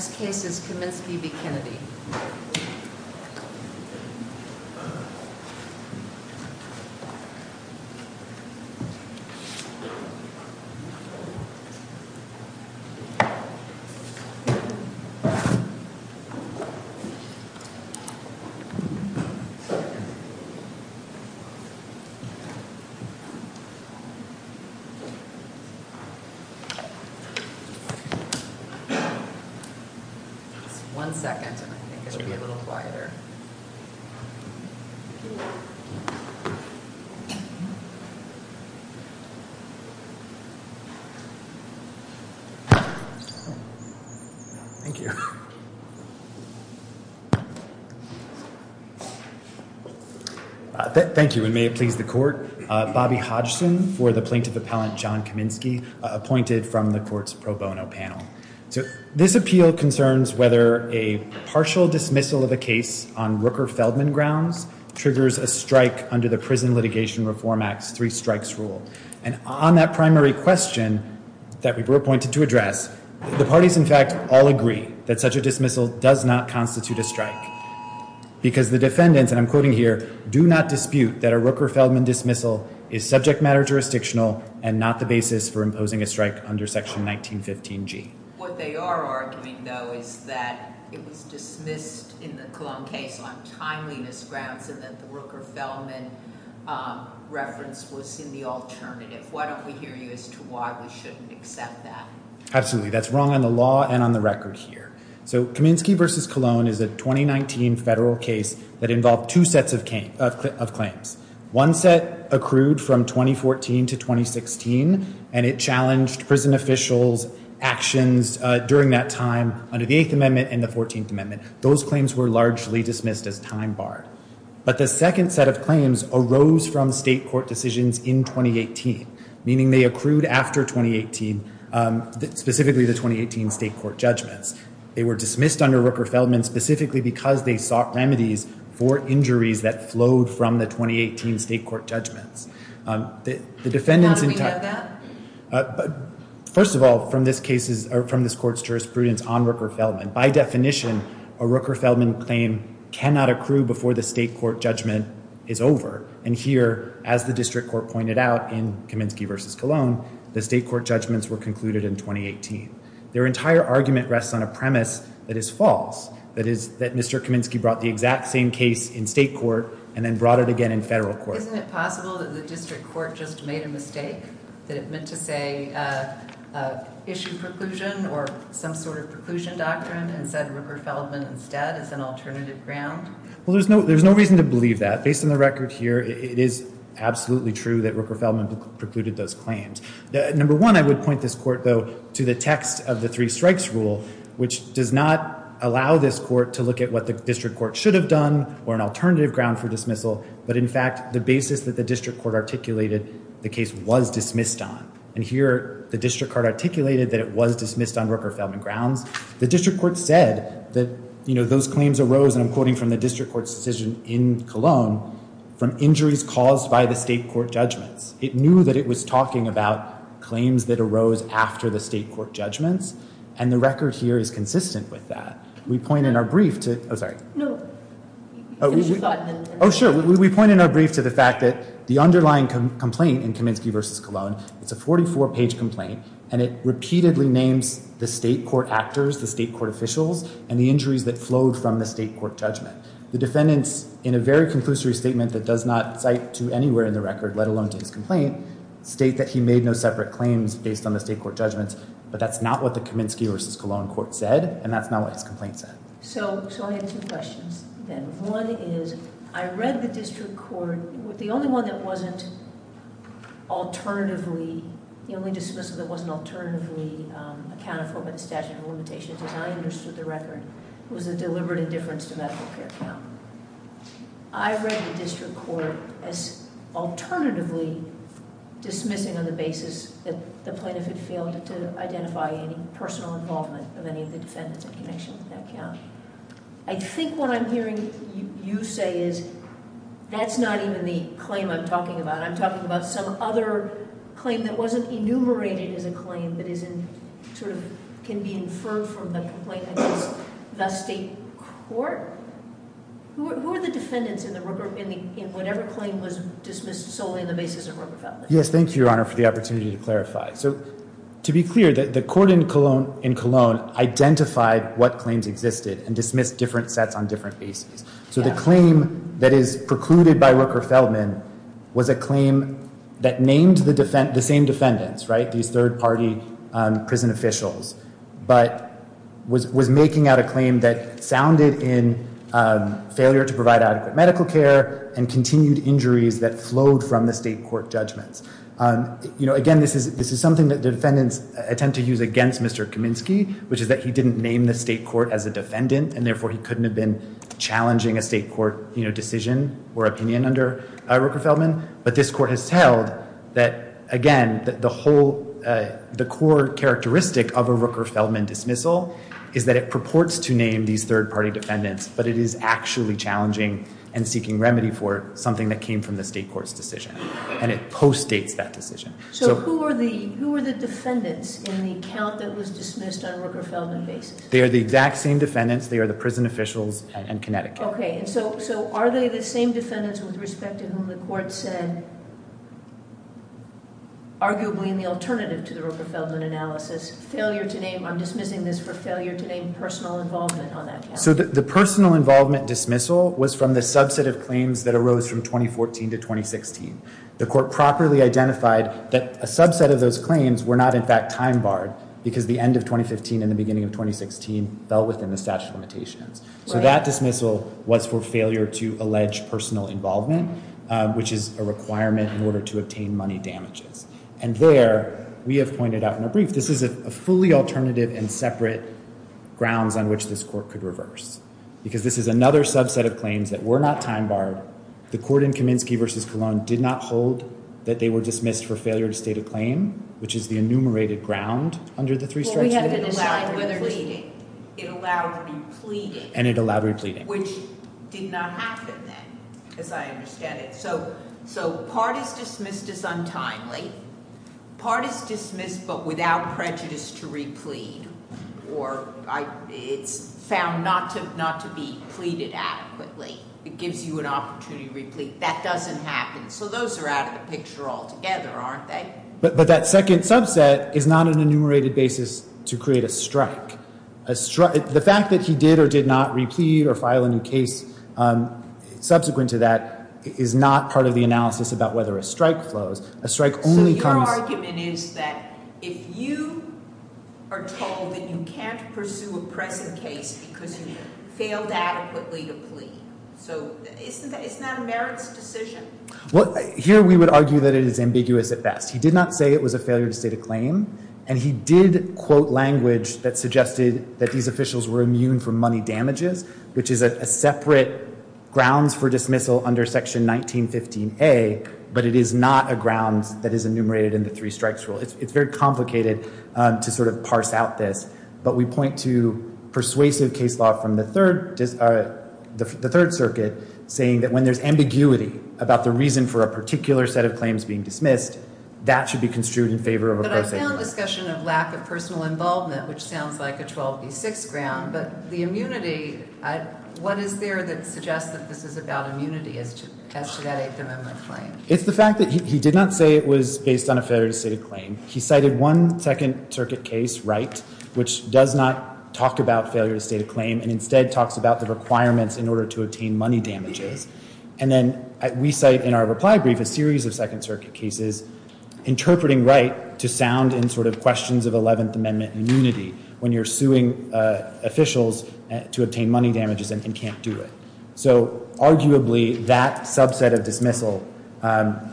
The next case is Cummins v. B. Kennedy One second. Thank you and may it please the court. Bobby Hodgson for the plaintiff appellant John Kaminski appointed from the court's pro bono panel. This appeal concerns whether a partial dismissal of a case on Rooker-Feldman grounds triggers a strike under the Prison Litigation Reform Act's three strikes rule. And on that primary question that we were appointed to address, the parties in fact all agree that such a dismissal does not constitute a strike. Because the defendants, and I'm quoting here, do not dispute that a Rooker-Feldman dismissal is subject matter jurisdictional and not the basis for imposing a strike under section 1915G. What they are arguing though is that it was dismissed in the Cologne case on timeliness grounds and that the Rooker-Feldman reference was in the alternative. Why don't we hear you as to why we shouldn't accept that? Absolutely. That's wrong on the law and on the record here. So Kaminski v. Cologne is a 2019 federal case that involved two sets of claims. One set accrued from 2014 to 2016 and it challenged prison officials' actions during that time under the 8th Amendment and the 14th Amendment. Those claims were largely dismissed as time barred. But the second set of claims arose from state court decisions in 2018, meaning they accrued after 2018, specifically the 2018 state court judgments. They were dismissed under Rooker-Feldman specifically because they sought remedies for injuries that flowed from the 2018 state court judgments. How do we know that? First of all, from this court's jurisprudence on Rooker-Feldman, by definition, a Rooker-Feldman claim cannot accrue before the state court judgment is over. And here, as the district court pointed out in Kaminski v. Cologne, the state court judgments were concluded in 2018. Their entire argument rests on a premise that is false, that is that Mr. Kaminski brought the exact same case in state court and then brought it again in federal court. Isn't it possible that the district court just made a mistake, that it meant to say issue preclusion or some sort of preclusion doctrine and said Rooker-Feldman instead as an alternative ground? Well, there's no reason to believe that. Based on the record here, it is absolutely true that Rooker-Feldman precluded those claims. Number one, I would point this court, though, to the text of the three strikes rule, which does not allow this court to look at what the district court should have done or an alternative ground for dismissal. But in fact, the basis that the district court articulated the case was dismissed on. And here, the district court articulated that it was dismissed on Rooker-Feldman grounds. The district court said that those claims arose, and I'm quoting from the district court's decision in Cologne, from injuries caused by the state court judgments. It knew that it was talking about claims that arose after the state court judgments, and the record here is consistent with that. We point in our brief to the fact that the underlying complaint in Kaminsky v. Cologne, it's a 44-page complaint, and it repeatedly names the state court actors, the state court officials, and the injuries that flowed from the state court judgment. The defendants in a very conclusory statement that does not cite to anywhere in the record, let alone to his complaint, state that he made no separate claims based on the state court judgments. But that's not what the Kaminsky v. Cologne court said, and that's not what his complaint said. So I have two questions, then. One is, I read the district court. The only one that wasn't alternatively, the only dismissal that wasn't alternatively accounted for by the statute of limitations, as I understood the record, was the deliberate indifference to medical care count. I read the district court as alternatively dismissing on the basis that the plaintiff had failed to identify any personal involvement of any of the defendants in connection with that count. I think what I'm hearing you say is, that's not even the claim I'm talking about. I'm talking about some other claim that wasn't enumerated as a claim, but can be inferred from the complaint against the state court. Who are the defendants in whatever claim was dismissed solely on the basis of Rooker-Feldman? Yes, thank you, Your Honor, for the opportunity to clarify. So, to be clear, the court in Cologne identified what claims existed and dismissed different sets on different bases. So the claim that is precluded by Rooker-Feldman was a claim that named the same defendants, right, these third-party prison officials, but was making out a claim that sounded in failure to provide adequate medical care and continued injuries that flowed from the state court judgments. You know, again, this is something that the defendants attempt to use against Mr. Kaminsky, which is that he didn't name the state court as a defendant, and therefore he couldn't have been challenging a state court decision or opinion under Rooker-Feldman. But this court has held that, again, the core characteristic of a Rooker-Feldman dismissal is that it purports to name these third-party defendants, but it is actually challenging and seeking remedy for something that came from the state court's decision, and it postdates that decision. So who are the defendants in the count that was dismissed on Rooker-Feldman basis? They are the exact same defendants. They are the prison officials and Connecticut. Okay, and so are they the same defendants with respect to whom the court said, arguably in the alternative to the Rooker-Feldman analysis, failure to name—I'm dismissing this for failure to name personal involvement on that count. So the personal involvement dismissal was from the subset of claims that arose from 2014 to 2016. The court properly identified that a subset of those claims were not, in fact, time-barred, because the end of 2015 and the beginning of 2016 fell within the statute of limitations. So that dismissal was for failure to allege personal involvement, which is a requirement in order to obtain money damages. And there, we have pointed out in a brief, this is a fully alternative and separate grounds on which this court could reverse, because this is another subset of claims that were not time-barred. The court in Kaminsky v. Colon did not hold that they were dismissed for failure to state a claim, which is the enumerated ground under the three strikes. Well, we have to decide whether to— It allowed repleting. It allowed repleting. And it allowed repleting. Which did not happen then, as I understand it. So part is dismissed as untimely. Part is dismissed but without prejudice to replete. Or it's found not to be pleaded adequately. It gives you an opportunity to replete. That doesn't happen. So those are out of the picture altogether, aren't they? But that second subset is not an enumerated basis to create a strike. The fact that he did or did not replete or file a new case subsequent to that is not part of the analysis about whether a strike flows. A strike only comes— So your argument is that if you are told that you can't pursue a pressing case because you failed adequately to plead. So isn't that a merits decision? Well, here we would argue that it is ambiguous at best. He did not say it was a failure to state a claim. And he did quote language that suggested that these officials were immune from money damages, which is a separate grounds for dismissal under Section 1915A. But it is not a grounds that is enumerated in the three strikes rule. It's very complicated to sort of parse out this. But we point to persuasive case law from the Third Circuit saying that when there's ambiguity about the reason for a particular set of claims being dismissed, that should be construed in favor of a prosecution. We found discussion of lack of personal involvement, which sounds like a 12B6 ground. But the immunity, what is there that suggests that this is about immunity as to that Eighth Amendment claim? It's the fact that he did not say it was based on a failure to state a claim. He cited one Second Circuit case, Wright, which does not talk about failure to state a claim and instead talks about the requirements in order to obtain money damages. And then we cite in our reply brief a series of Second Circuit cases interpreting Wright to sound in sort of questions of Eleventh Amendment immunity when you're suing officials to obtain money damages and can't do it. So arguably that subset of dismissal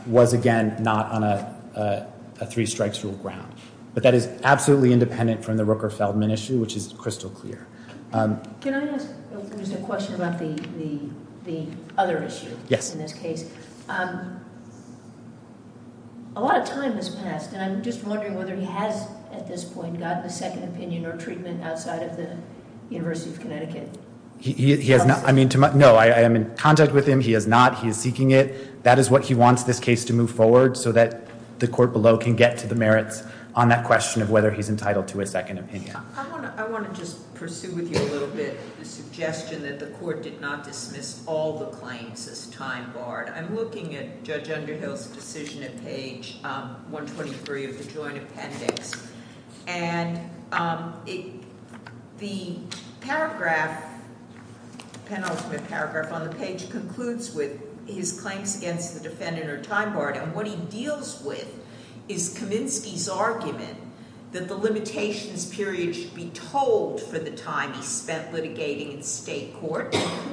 was again not on a three strikes rule ground. But that is absolutely independent from the Rooker-Feldman issue, which is crystal clear. Can I ask a question about the other issue in this case? Yes. A lot of time has passed, and I'm just wondering whether he has at this point gotten a second opinion or treatment outside of the University of Connecticut. He has not. I mean, no, I am in contact with him. He has not. He is seeking it. That is what he wants this case to move forward so that the court below can get to the merits on that question of whether he's entitled to a second opinion. I want to just pursue with you a little bit the suggestion that the court did not dismiss all the claims as time-barred. I'm looking at Judge Underhill's decision at page 123 of the Joint Appendix. And the paragraph, penultimate paragraph on the page, concludes with his claims against the defendant are time-barred, and what he deals with is Kaminsky's argument that the limitations period should be told for the time he spent litigating in state court.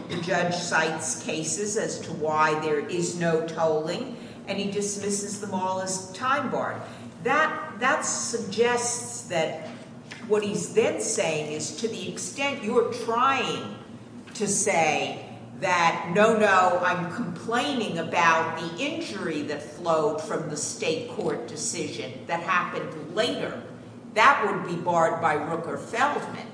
The judge cites cases as to why there is no tolling, and he dismisses them all as time-barred. That suggests that what he's then saying is to the extent you are trying to say that, no, no, I'm complaining about the injury that flowed from the state court decision that happened later, that would be barred by Rooker-Feldman.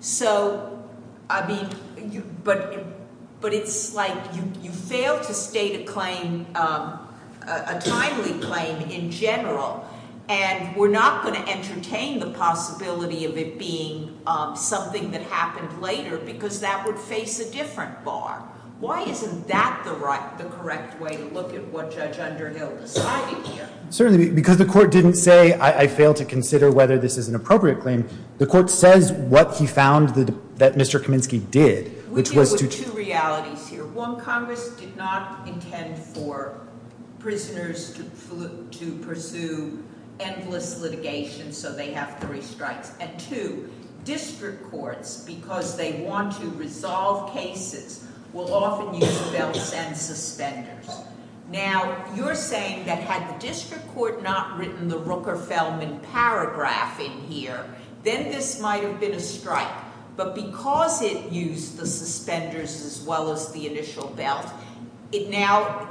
So, I mean, but it's like you fail to state a claim, a timely claim in general, and we're not going to entertain the possibility of it being something that happened later because that would face a different bar. Why isn't that the correct way to look at what Judge Underhill decided here? Certainly, because the court didn't say, I fail to consider whether this is an appropriate claim. The court says what he found that Mr. Kaminsky did, which was to- We deal with two realities here. One, Congress did not intend for prisoners to pursue endless litigation, so they have three strikes. And two, district courts, because they want to resolve cases, will often use belts and suspenders. Now, you're saying that had the district court not written the Rooker-Feldman paragraph in here, then this might have been a strike. But because it used the suspenders as well as the initial belt, now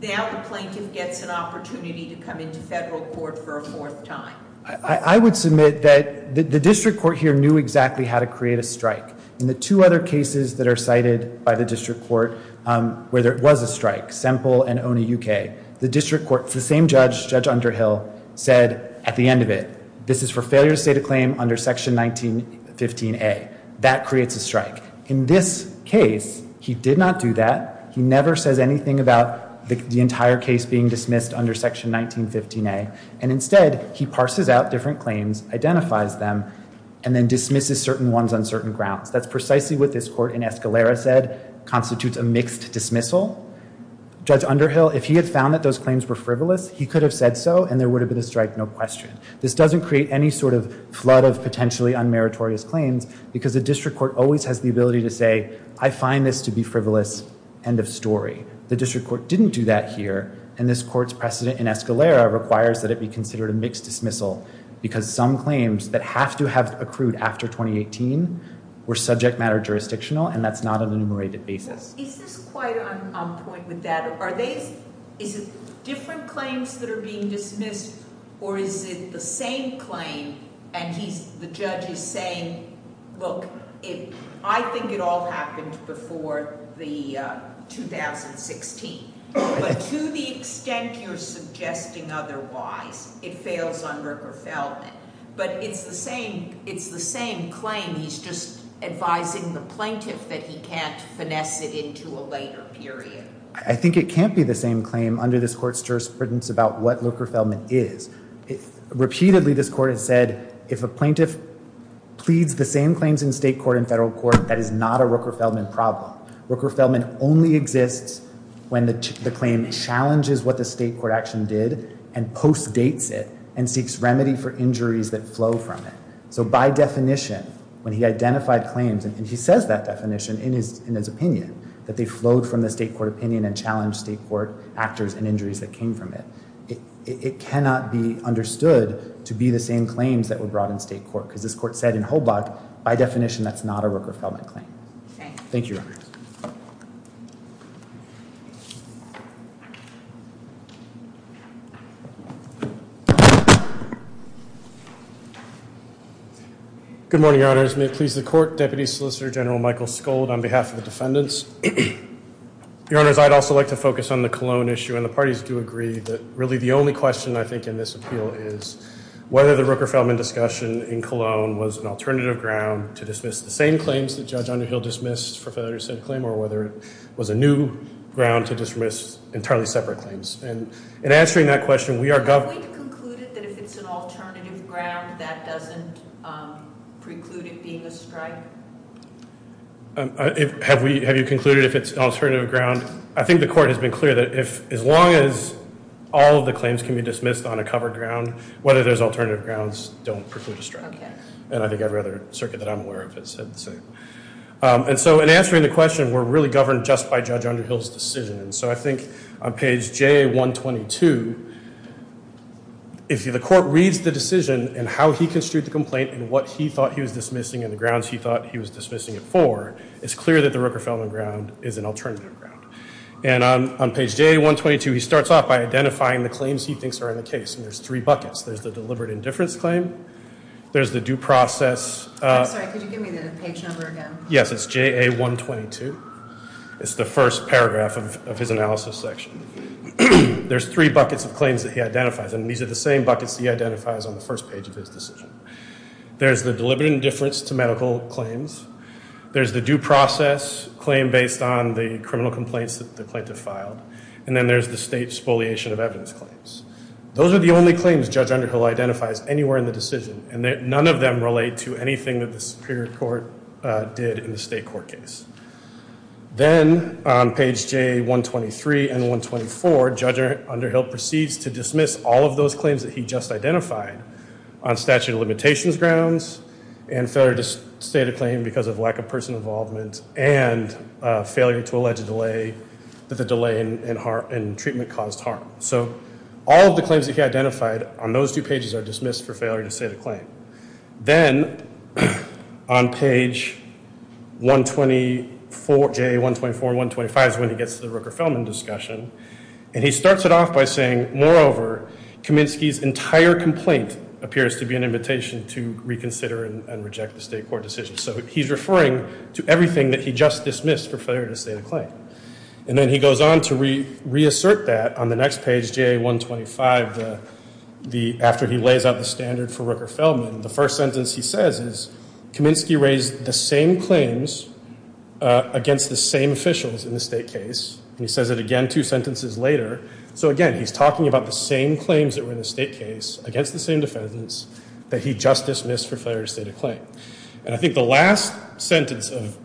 the plaintiff gets an opportunity to come into federal court for a fourth time. I would submit that the district court here knew exactly how to create a strike. In the two other cases that are cited by the district court where there was a strike, Semple and Oney U.K., the district court, the same judge, Judge Underhill, said at the end of it, this is for failure to state a claim under Section 1915A. That creates a strike. In this case, he did not do that. He never says anything about the entire case being dismissed under Section 1915A. And instead, he parses out different claims, identifies them, and then dismisses certain ones on certain grounds. That's precisely what this court in Escalera said constitutes a mixed dismissal. Judge Underhill, if he had found that those claims were frivolous, he could have said so, and there would have been a strike, no question. This doesn't create any sort of flood of potentially unmeritorious claims because the district court always has the ability to say, I find this to be frivolous, end of story. The district court didn't do that here. And this court's precedent in Escalera requires that it be considered a mixed dismissal because some claims that have to have accrued after 2018 were subject matter jurisdictional, and that's not an enumerated basis. Is this quite on point with that? Is it different claims that are being dismissed, or is it the same claim, and the judge is saying, look, I think it all happened before 2016. But to the extent you're suggesting otherwise, it fails on Rooker-Feldman. But it's the same claim. He's just advising the plaintiff that he can't finesse it into a later period. I think it can't be the same claim under this court's jurisprudence about what Rooker-Feldman is. Repeatedly, this court has said, if a plaintiff pleads the same claims in state court and federal court, that is not a Rooker-Feldman problem. Rooker-Feldman only exists when the claim challenges what the state court action did and postdates it and seeks remedy for injuries that flow from it. So by definition, when he identified claims, and he says that definition in his opinion, that they flowed from the state court opinion and challenged state court actors and injuries that came from it, it cannot be understood to be the same claims that were brought in state court because this court said in Hobart, by definition, that's not a Rooker-Feldman claim. Thank you, Your Honors. Good morning, Your Honors. May it please the Court, Deputy Solicitor General Michael Skold on behalf of the defendants. Your Honors, I'd also like to focus on the Cologne issue, and the parties do agree that really the only question I think in this appeal is whether the Rooker-Feldman discussion in Cologne was an alternative ground to dismiss the same claims that Judge Underhill dismissed for failure to set a claim or whether it was a new ground to dismiss entirely separate claims. And in answering that question, we are going to conclude that if it's an alternative ground, that doesn't preclude it being a strike? Have you concluded if it's an alternative ground? I think the Court has been clear that as long as all of the claims can be dismissed on a covered ground, whether there's alternative grounds don't preclude a strike. And I think every other circuit that I'm aware of has said the same. And so in answering the question, we're really governed just by Judge Underhill's decision. And so I think on page JA-122, if the Court reads the decision and how he construed the complaint and what he thought he was dismissing and the grounds he thought he was dismissing it for, it's clear that the Rooker-Feldman ground is an alternative ground. And on page JA-122, he starts off by identifying the claims he thinks are in the case. And there's three buckets. There's the deliberate indifference claim. There's the due process. I'm sorry, could you give me the page number again? Yes, it's JA-122. It's the first paragraph of his analysis section. There's three buckets of claims that he identifies. And these are the same buckets he identifies on the first page of his decision. There's the deliberate indifference to medical claims. There's the due process claim based on the criminal complaints that the plaintiff filed. And then there's the state spoliation of evidence claims. Those are the only claims Judge Underhill identifies anywhere in the decision. And none of them relate to anything that the Superior Court did in the state court case. Then on page JA-123 and 124, Judge Underhill proceeds to dismiss all of those claims that he just identified on statute of limitations grounds and failure to state a claim because of lack of person involvement and failure to allege a delay that the delay in treatment caused harm. So all of the claims that he identified on those two pages are dismissed for failure to state a claim. Then on page JA-124 and 125 is when he gets to the Rooker-Feldman discussion. And he starts it off by saying, moreover, Kaminsky's entire complaint appears to be an invitation to reconsider and reject the state court decision. So he's referring to everything that he just dismissed for failure to state a claim. And then he goes on to reassert that on the next page, JA-125, after he lays out the standard for Rooker-Feldman. The first sentence he says is, Kaminsky raised the same claims against the same officials in the state case. And he says it again two sentences later. So again, he's talking about the same claims that were in the state case against the same defendants that he just dismissed for failure to state a claim. And I think the last sentence of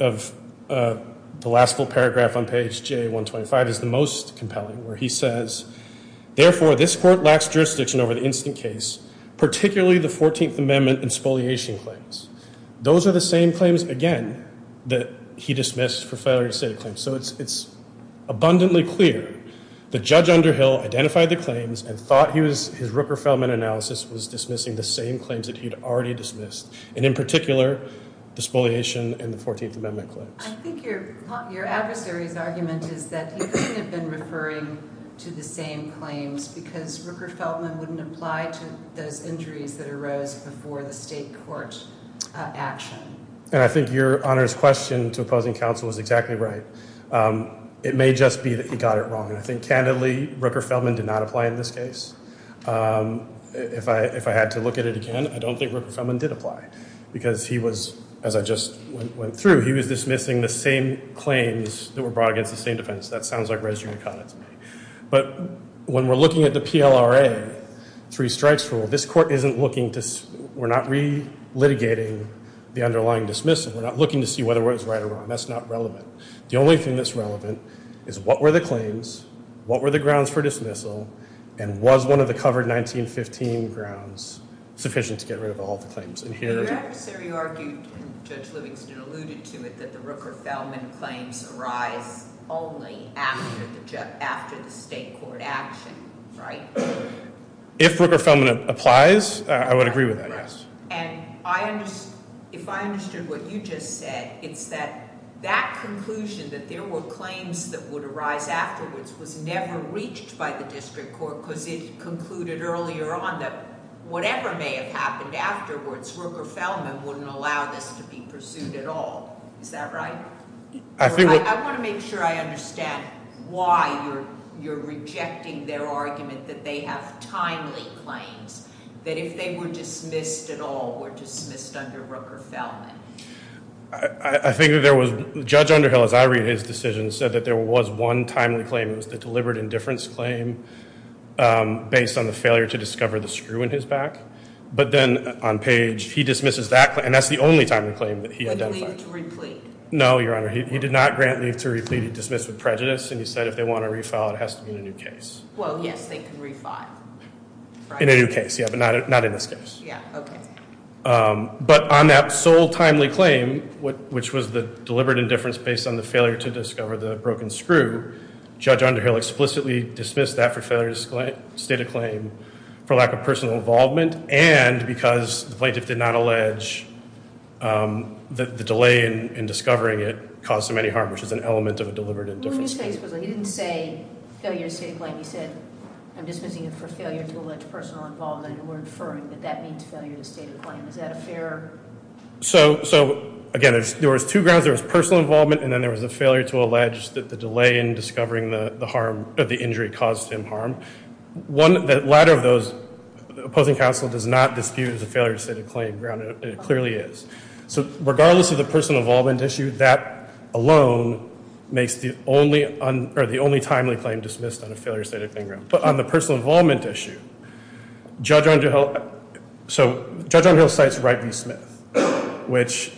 the last full paragraph on page JA-125 is the most compelling, where he says, therefore, this court lacks jurisdiction over the instant case, particularly the 14th Amendment and spoliation claims. Those are the same claims, again, that he dismissed for failure to state a claim. So it's abundantly clear that Judge Underhill identified the claims and thought his Rooker-Feldman analysis was dismissing the same claims that he had already dismissed. And in particular, the spoliation and the 14th Amendment claims. I think your adversary's argument is that he couldn't have been referring to the same claims because Rooker-Feldman wouldn't apply to those injuries that arose before the state court action. And I think Your Honor's question to opposing counsel is exactly right. It may just be that he got it wrong. And I think, candidly, Rooker-Feldman did not apply in this case. If I had to look at it again, I don't think Rooker-Feldman did apply because he was, as I just went through, he was dismissing the same claims that were brought against the same defense. That sounds like registering a condom to me. But when we're looking at the PLRA three strikes rule, this court isn't looking to we're not re-litigating the underlying dismissal. We're not looking to see whether it was right or wrong. That's not relevant. The only thing that's relevant is what were the claims, what were the grounds for dismissal, and was one of the covered 1915 grounds sufficient to get rid of all the claims. Your adversary argued, and Judge Livingston alluded to it, that the Rooker-Feldman claims arise only after the state court action, right? If Rooker-Feldman applies, I would agree with that, yes. And if I understood what you just said, it's that that conclusion that there were claims that would arise afterwards was never reached by the district court because it concluded earlier on that whatever may have happened afterwards, Rooker-Feldman wouldn't allow this to be pursued at all. Is that right? I want to make sure I understand why you're rejecting their argument that they have timely claims, that if they were dismissed at all, were dismissed under Rooker-Feldman. I think that there was, Judge Underhill, as I read his decision, said that there was one timely claim, the deliberate indifference claim, based on the failure to discover the screw in his back. But then on page, he dismisses that claim, and that's the only timely claim that he identified. No, Your Honor, he did not grant leave to replete. He dismissed with prejudice, and he said if they want to refile, it has to be in a new case. Well, yes, they can refile. In a new case, yeah, but not in this case. Yeah, okay. But on that sole timely claim, which was the deliberate indifference based on the failure to discover the broken screw, Judge Underhill explicitly dismissed that for failure to state a claim for lack of personal involvement, and because the plaintiff did not allege the delay in discovering it caused them any harm, which is an element of a deliberate indifference claim. Well, in this case, he didn't say failure to state a claim. He said, I'm dismissing it for failure to allege personal involvement, and we're inferring that that means failure to state a claim. Is that a fair? So, again, there was two grounds. There was personal involvement, and then there was a failure to allege that the delay in discovering the injury caused him harm. The latter of those, the opposing counsel does not dispute the failure to state a claim. It clearly is. So regardless of the personal involvement issue, that alone makes the only timely claim dismissed on a failure to state a claim. But on the personal involvement issue, Judge Underhill cites Wright v. Smith, which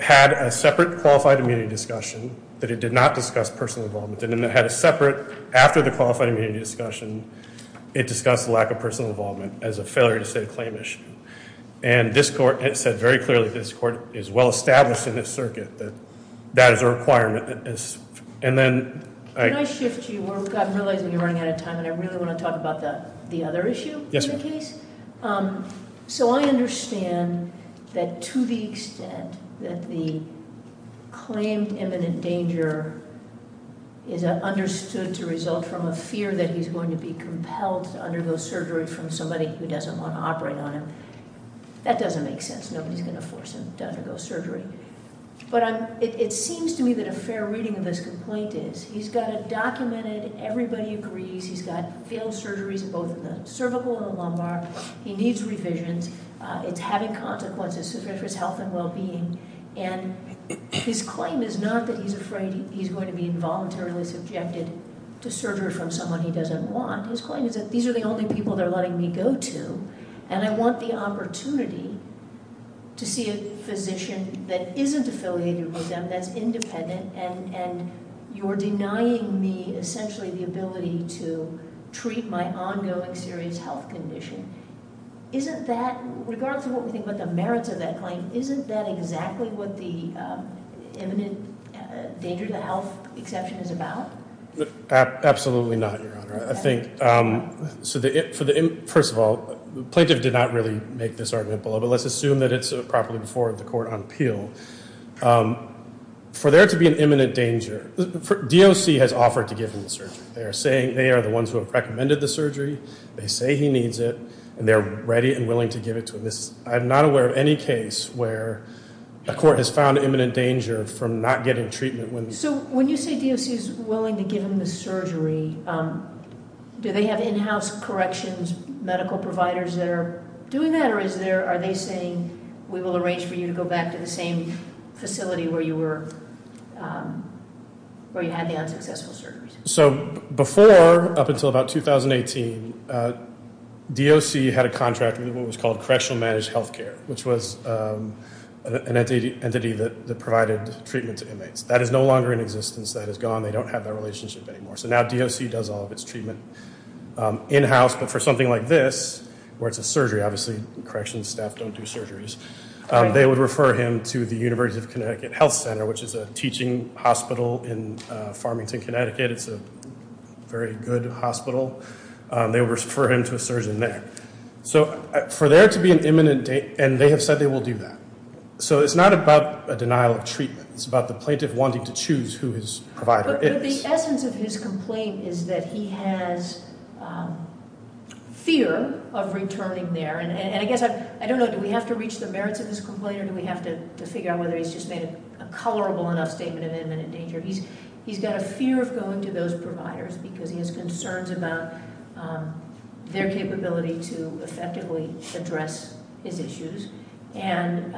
had a separate qualified immunity discussion that it did not discuss personal involvement, and then it had a separate, after the qualified immunity discussion, it discussed lack of personal involvement as a failure to state a claim issue. And this court said very clearly, this court is well-established in this circuit that that is a requirement. Can I shift you? I'm realizing you're running out of time, and I really want to talk about the other issue in the case. So I understand that to the extent that the claimed imminent danger is understood to result from a fear that he's going to be compelled to undergo surgery from somebody who doesn't want to operate on him, that doesn't make sense. Nobody's going to force him to undergo surgery. But it seems to me that a fair reading of this complaint is he's got it documented, everybody agrees, he's got failed surgeries both in the cervical and the lumbar, he needs revisions, it's having consequences for his health and well-being, and his claim is not that he's afraid he's going to be involuntarily subjected to surgery from someone he doesn't want. His claim is that these are the only people they're letting me go to, and I want the opportunity to see a physician that isn't affiliated with them, that's independent, and you're denying me essentially the ability to treat my ongoing serious health condition. Isn't that, regardless of what we think about the merits of that claim, isn't that exactly what the imminent danger to health exception is about? Absolutely not, Your Honor. First of all, the plaintiff did not really make this argument, but let's assume that it's properly before the court on appeal. For there to be an imminent danger, DOC has offered to give him the surgery. They are the ones who have recommended the surgery, they say he needs it, and they're ready and willing to give it to him. I'm not aware of any case where a court has found imminent danger from not getting treatment when- So when you say DOC is willing to give him the surgery, do they have in-house corrections medical providers that are doing that, or are they saying we will arrange for you to go back to the same facility where you had the unsuccessful surgery? So before, up until about 2018, DOC had a contract with what was called Correctional Managed Health Care, which was an entity that provided treatment to inmates. That is no longer in existence, that is gone, they don't have that relationship anymore. For something like this, where it's a surgery, obviously corrections staff don't do surgeries, they would refer him to the University of Connecticut Health Center, which is a teaching hospital in Farmington, Connecticut. It's a very good hospital. They would refer him to a surgeon there. So for there to be an imminent danger, and they have said they will do that. So it's not about a denial of treatment. It's about the plaintiff wanting to choose who his provider is. But the essence of his complaint is that he has fear of returning there. And I guess, I don't know, do we have to reach the merits of this complaint, or do we have to figure out whether he's just made a colorable enough statement of imminent danger? He's got a fear of going to those providers, because he has concerns about their capability to effectively address his issues. And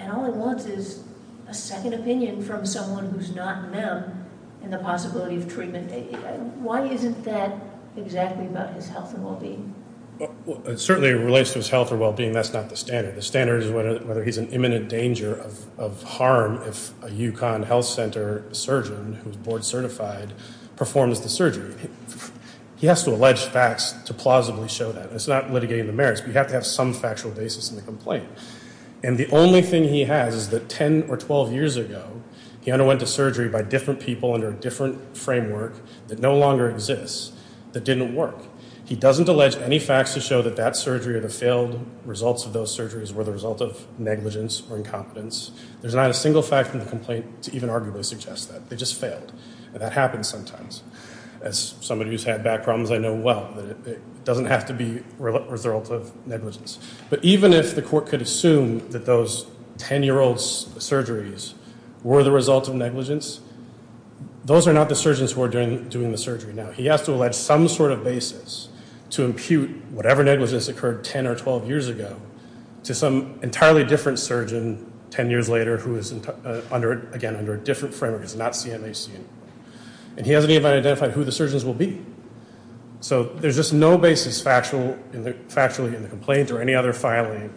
all he wants is a second opinion from someone who's not them in the possibility of treatment. Why isn't that exactly about his health and well-being? It certainly relates to his health and well-being. That's not the standard. The standard is whether he's in imminent danger of harm if a UConn Health Center surgeon, who's board certified, performs the surgery. He has to allege facts to plausibly show that. It's not litigating the merits, but you have to have some factual basis in the complaint. And the only thing he has is that 10 or 12 years ago, he underwent a surgery by different people under a different framework that no longer exists that didn't work. He doesn't allege any facts to show that that surgery or the failed results of those surgeries were the result of negligence or incompetence. There's not a single fact in the complaint to even arguably suggest that. They just failed. And that happens sometimes. As somebody who's had back problems, I know well that it doesn't have to be a result of negligence. But even if the court could assume that those 10-year-old surgeries were the result of negligence, those are not the surgeons who are doing the surgery now. He has to allege some sort of basis to impute whatever negligence occurred 10 or 12 years ago to some entirely different surgeon 10 years later who is, again, under a different framework. It's not CMHC. And he hasn't even identified who the surgeons will be. So there's just no basis factually in the complaint or any other filing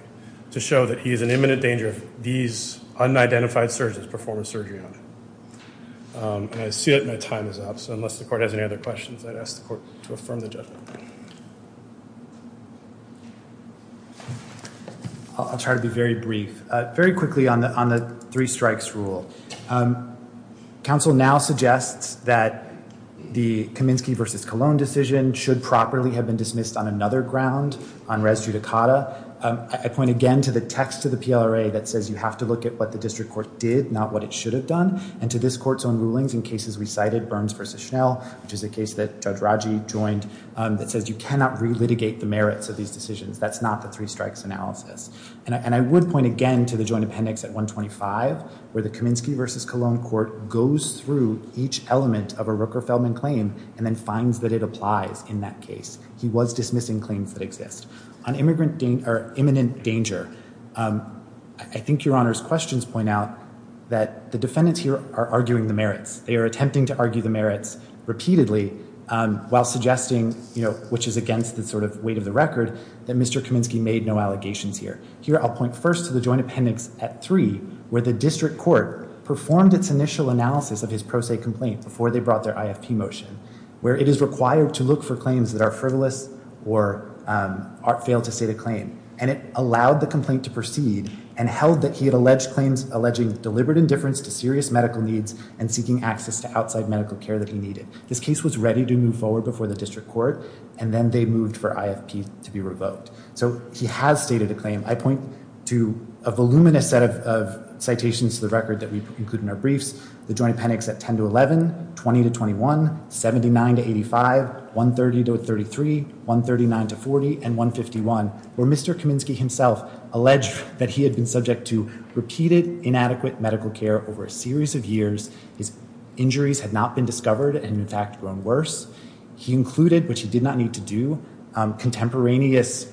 to show that he is in imminent danger of these unidentified surgeons performing surgery on him. And I see that my time is up. So unless the court has any other questions, I'd ask the court to affirm the judgment. I'll try to be very brief. Very quickly on the three strikes rule. Counsel now suggests that the Kaminsky v. Colon decision should properly have been dismissed on another ground, on res judicata. I point again to the text of the PLRA that says you have to look at what the district court did, not what it should have done, and to this court's own rulings in cases we cited, Burns v. Schnell, which is a case that Judge Raji joined, that says you cannot relitigate the merits of these decisions. That's not the three strikes analysis. And I would point again to the joint appendix at 125, where the Kaminsky v. Colon court goes through each element of a Rooker-Feldman claim and then finds that it applies in that case. He was dismissing claims that exist. On imminent danger, I think Your Honor's questions point out that the defendants here are arguing the merits. They are attempting to argue the merits repeatedly while suggesting, you know, which is against the sort of weight of the record, that Mr. Kaminsky made no allegations here. Here I'll point first to the joint appendix at 3, where the district court performed its initial analysis of his pro se complaint before they brought their IFP motion, where it is required to look for claims that are frivolous or fail to state a claim. And it allowed the complaint to proceed and held that he had alleged claims alleging deliberate indifference to serious medical needs and seeking access to outside medical care that he needed. This case was ready to move forward before the district court, and then they moved for IFP to be revoked. So he has stated a claim. I point to a voluminous set of citations to the record that we include in our briefs, the joint appendix at 10 to 11, 20 to 21, 79 to 85, 130 to 33, 139 to 40, and 151, where Mr. Kaminsky himself alleged that he had been subject to repeated inadequate medical care over a series of years. His injuries had not been discovered and, in fact, grown worse. He included, which he did not need to do, contemporaneous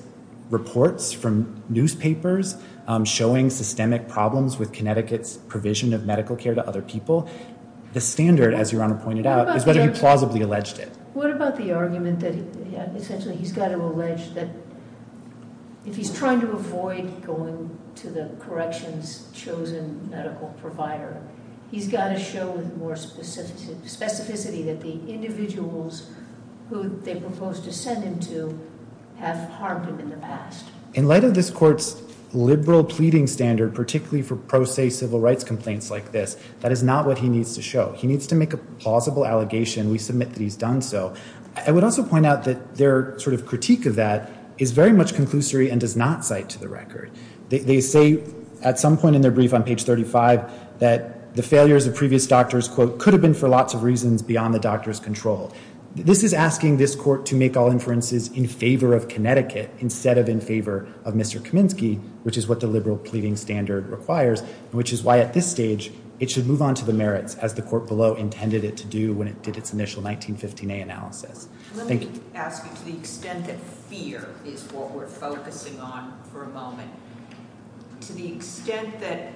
reports from newspapers showing systemic problems with Connecticut's provision of medical care to other people. The standard, as Your Honor pointed out, is whether he plausibly alleged it. What about the argument that essentially he's got to allege that if he's trying to avoid going to the corrections' chosen medical provider, he's got to show with more specificity that the individuals who they proposed to send him to have harmed him in the past? In light of this court's liberal pleading standard, particularly for pro se civil rights complaints like this, that is not what he needs to show. He needs to make a plausible allegation. We submit that he's done so. I would also point out that their sort of critique of that is very much conclusory and does not cite to the record. They say at some point in their brief on page 35 that the failures of previous doctors, quote, could have been for lots of reasons beyond the doctor's control. This is asking this court to make all inferences in favor of Connecticut instead of in favor of Mr. Kaminsky, which is what the liberal pleading standard requires, which is why at this stage it should move on to the merits as the court below intended it to do when it did its initial 1915a analysis. Let me ask you, to the extent that fear is what we're focusing on for a moment, to the extent that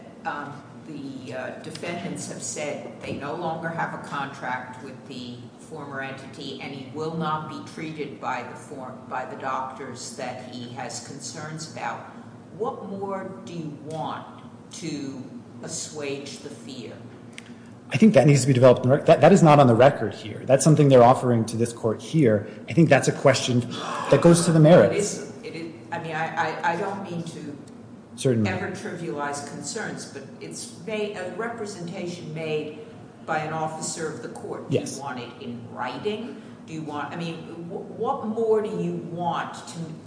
the defendants have said they no longer have a contract with the former entity and he will not be treated by the doctors that he has concerns about, what more do you want to assuage the fear? I think that needs to be developed. That is not on the record here. That's something they're offering to this court here. I think that's a question that goes to the merits. I mean, I don't mean to ever trivialize concerns, but it's a representation made by an officer of the court. Do you want it in writing? I mean, what more do you want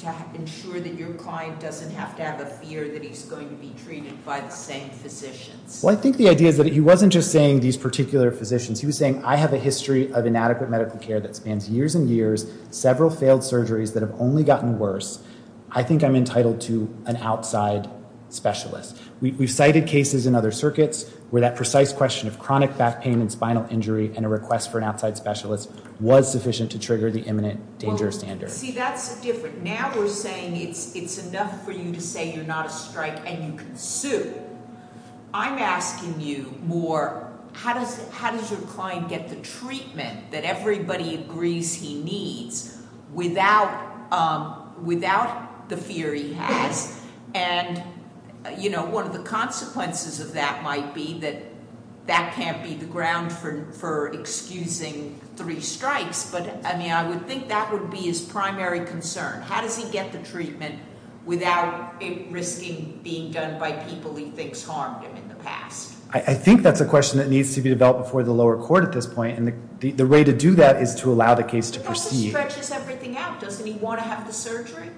to ensure that your client doesn't have to have a fear that he's going to be treated by the same physicians? Well, I think the idea is that he wasn't just saying these particular physicians. He was saying, I have a history of inadequate medical care that spans years and years, several failed surgeries that have only gotten worse. I think I'm entitled to an outside specialist. We've cited cases in other circuits where that precise question of chronic back pain and spinal injury and a request for an outside specialist was sufficient to trigger the imminent danger standard. See, that's different. Now we're saying it's enough for you to say you're not a strike and you can sue. I'm asking you more, how does your client get the treatment that everybody agrees he needs without the fear he has? And, you know, one of the consequences of that might be that that can't be the ground for excusing three strikes. But, I mean, I would think that would be his primary concern. How does he get the treatment without risking being done by people he thinks harmed him in the past? I think that's a question that needs to be developed before the lower court at this point. And the way to do that is to allow the case to proceed. It also stretches everything out. Doesn't he want to have the surgery?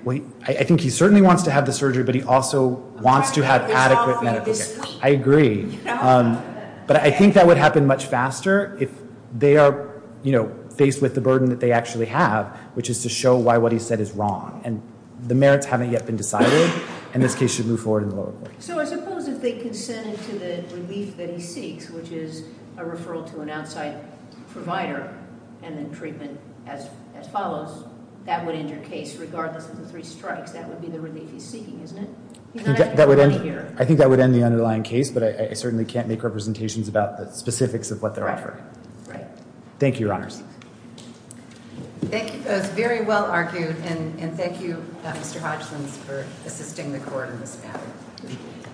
I think he certainly wants to have the surgery, but he also wants to have adequate medical care. I agree. But I think that would happen much faster if they are, you know, And the merits haven't yet been decided, and this case should move forward in the lower court. So I suppose if they consented to the relief that he seeks, which is a referral to an outside provider and then treatment as follows, that would end your case regardless of the three strikes. That would be the relief he's seeking, isn't it? I think that would end the underlying case, but I certainly can't make representations about the specifics of what they're offering. Thank you, Your Honors. Thank you both. Very well argued. And thank you, Mr. Hodgkins, for assisting the court in this matter.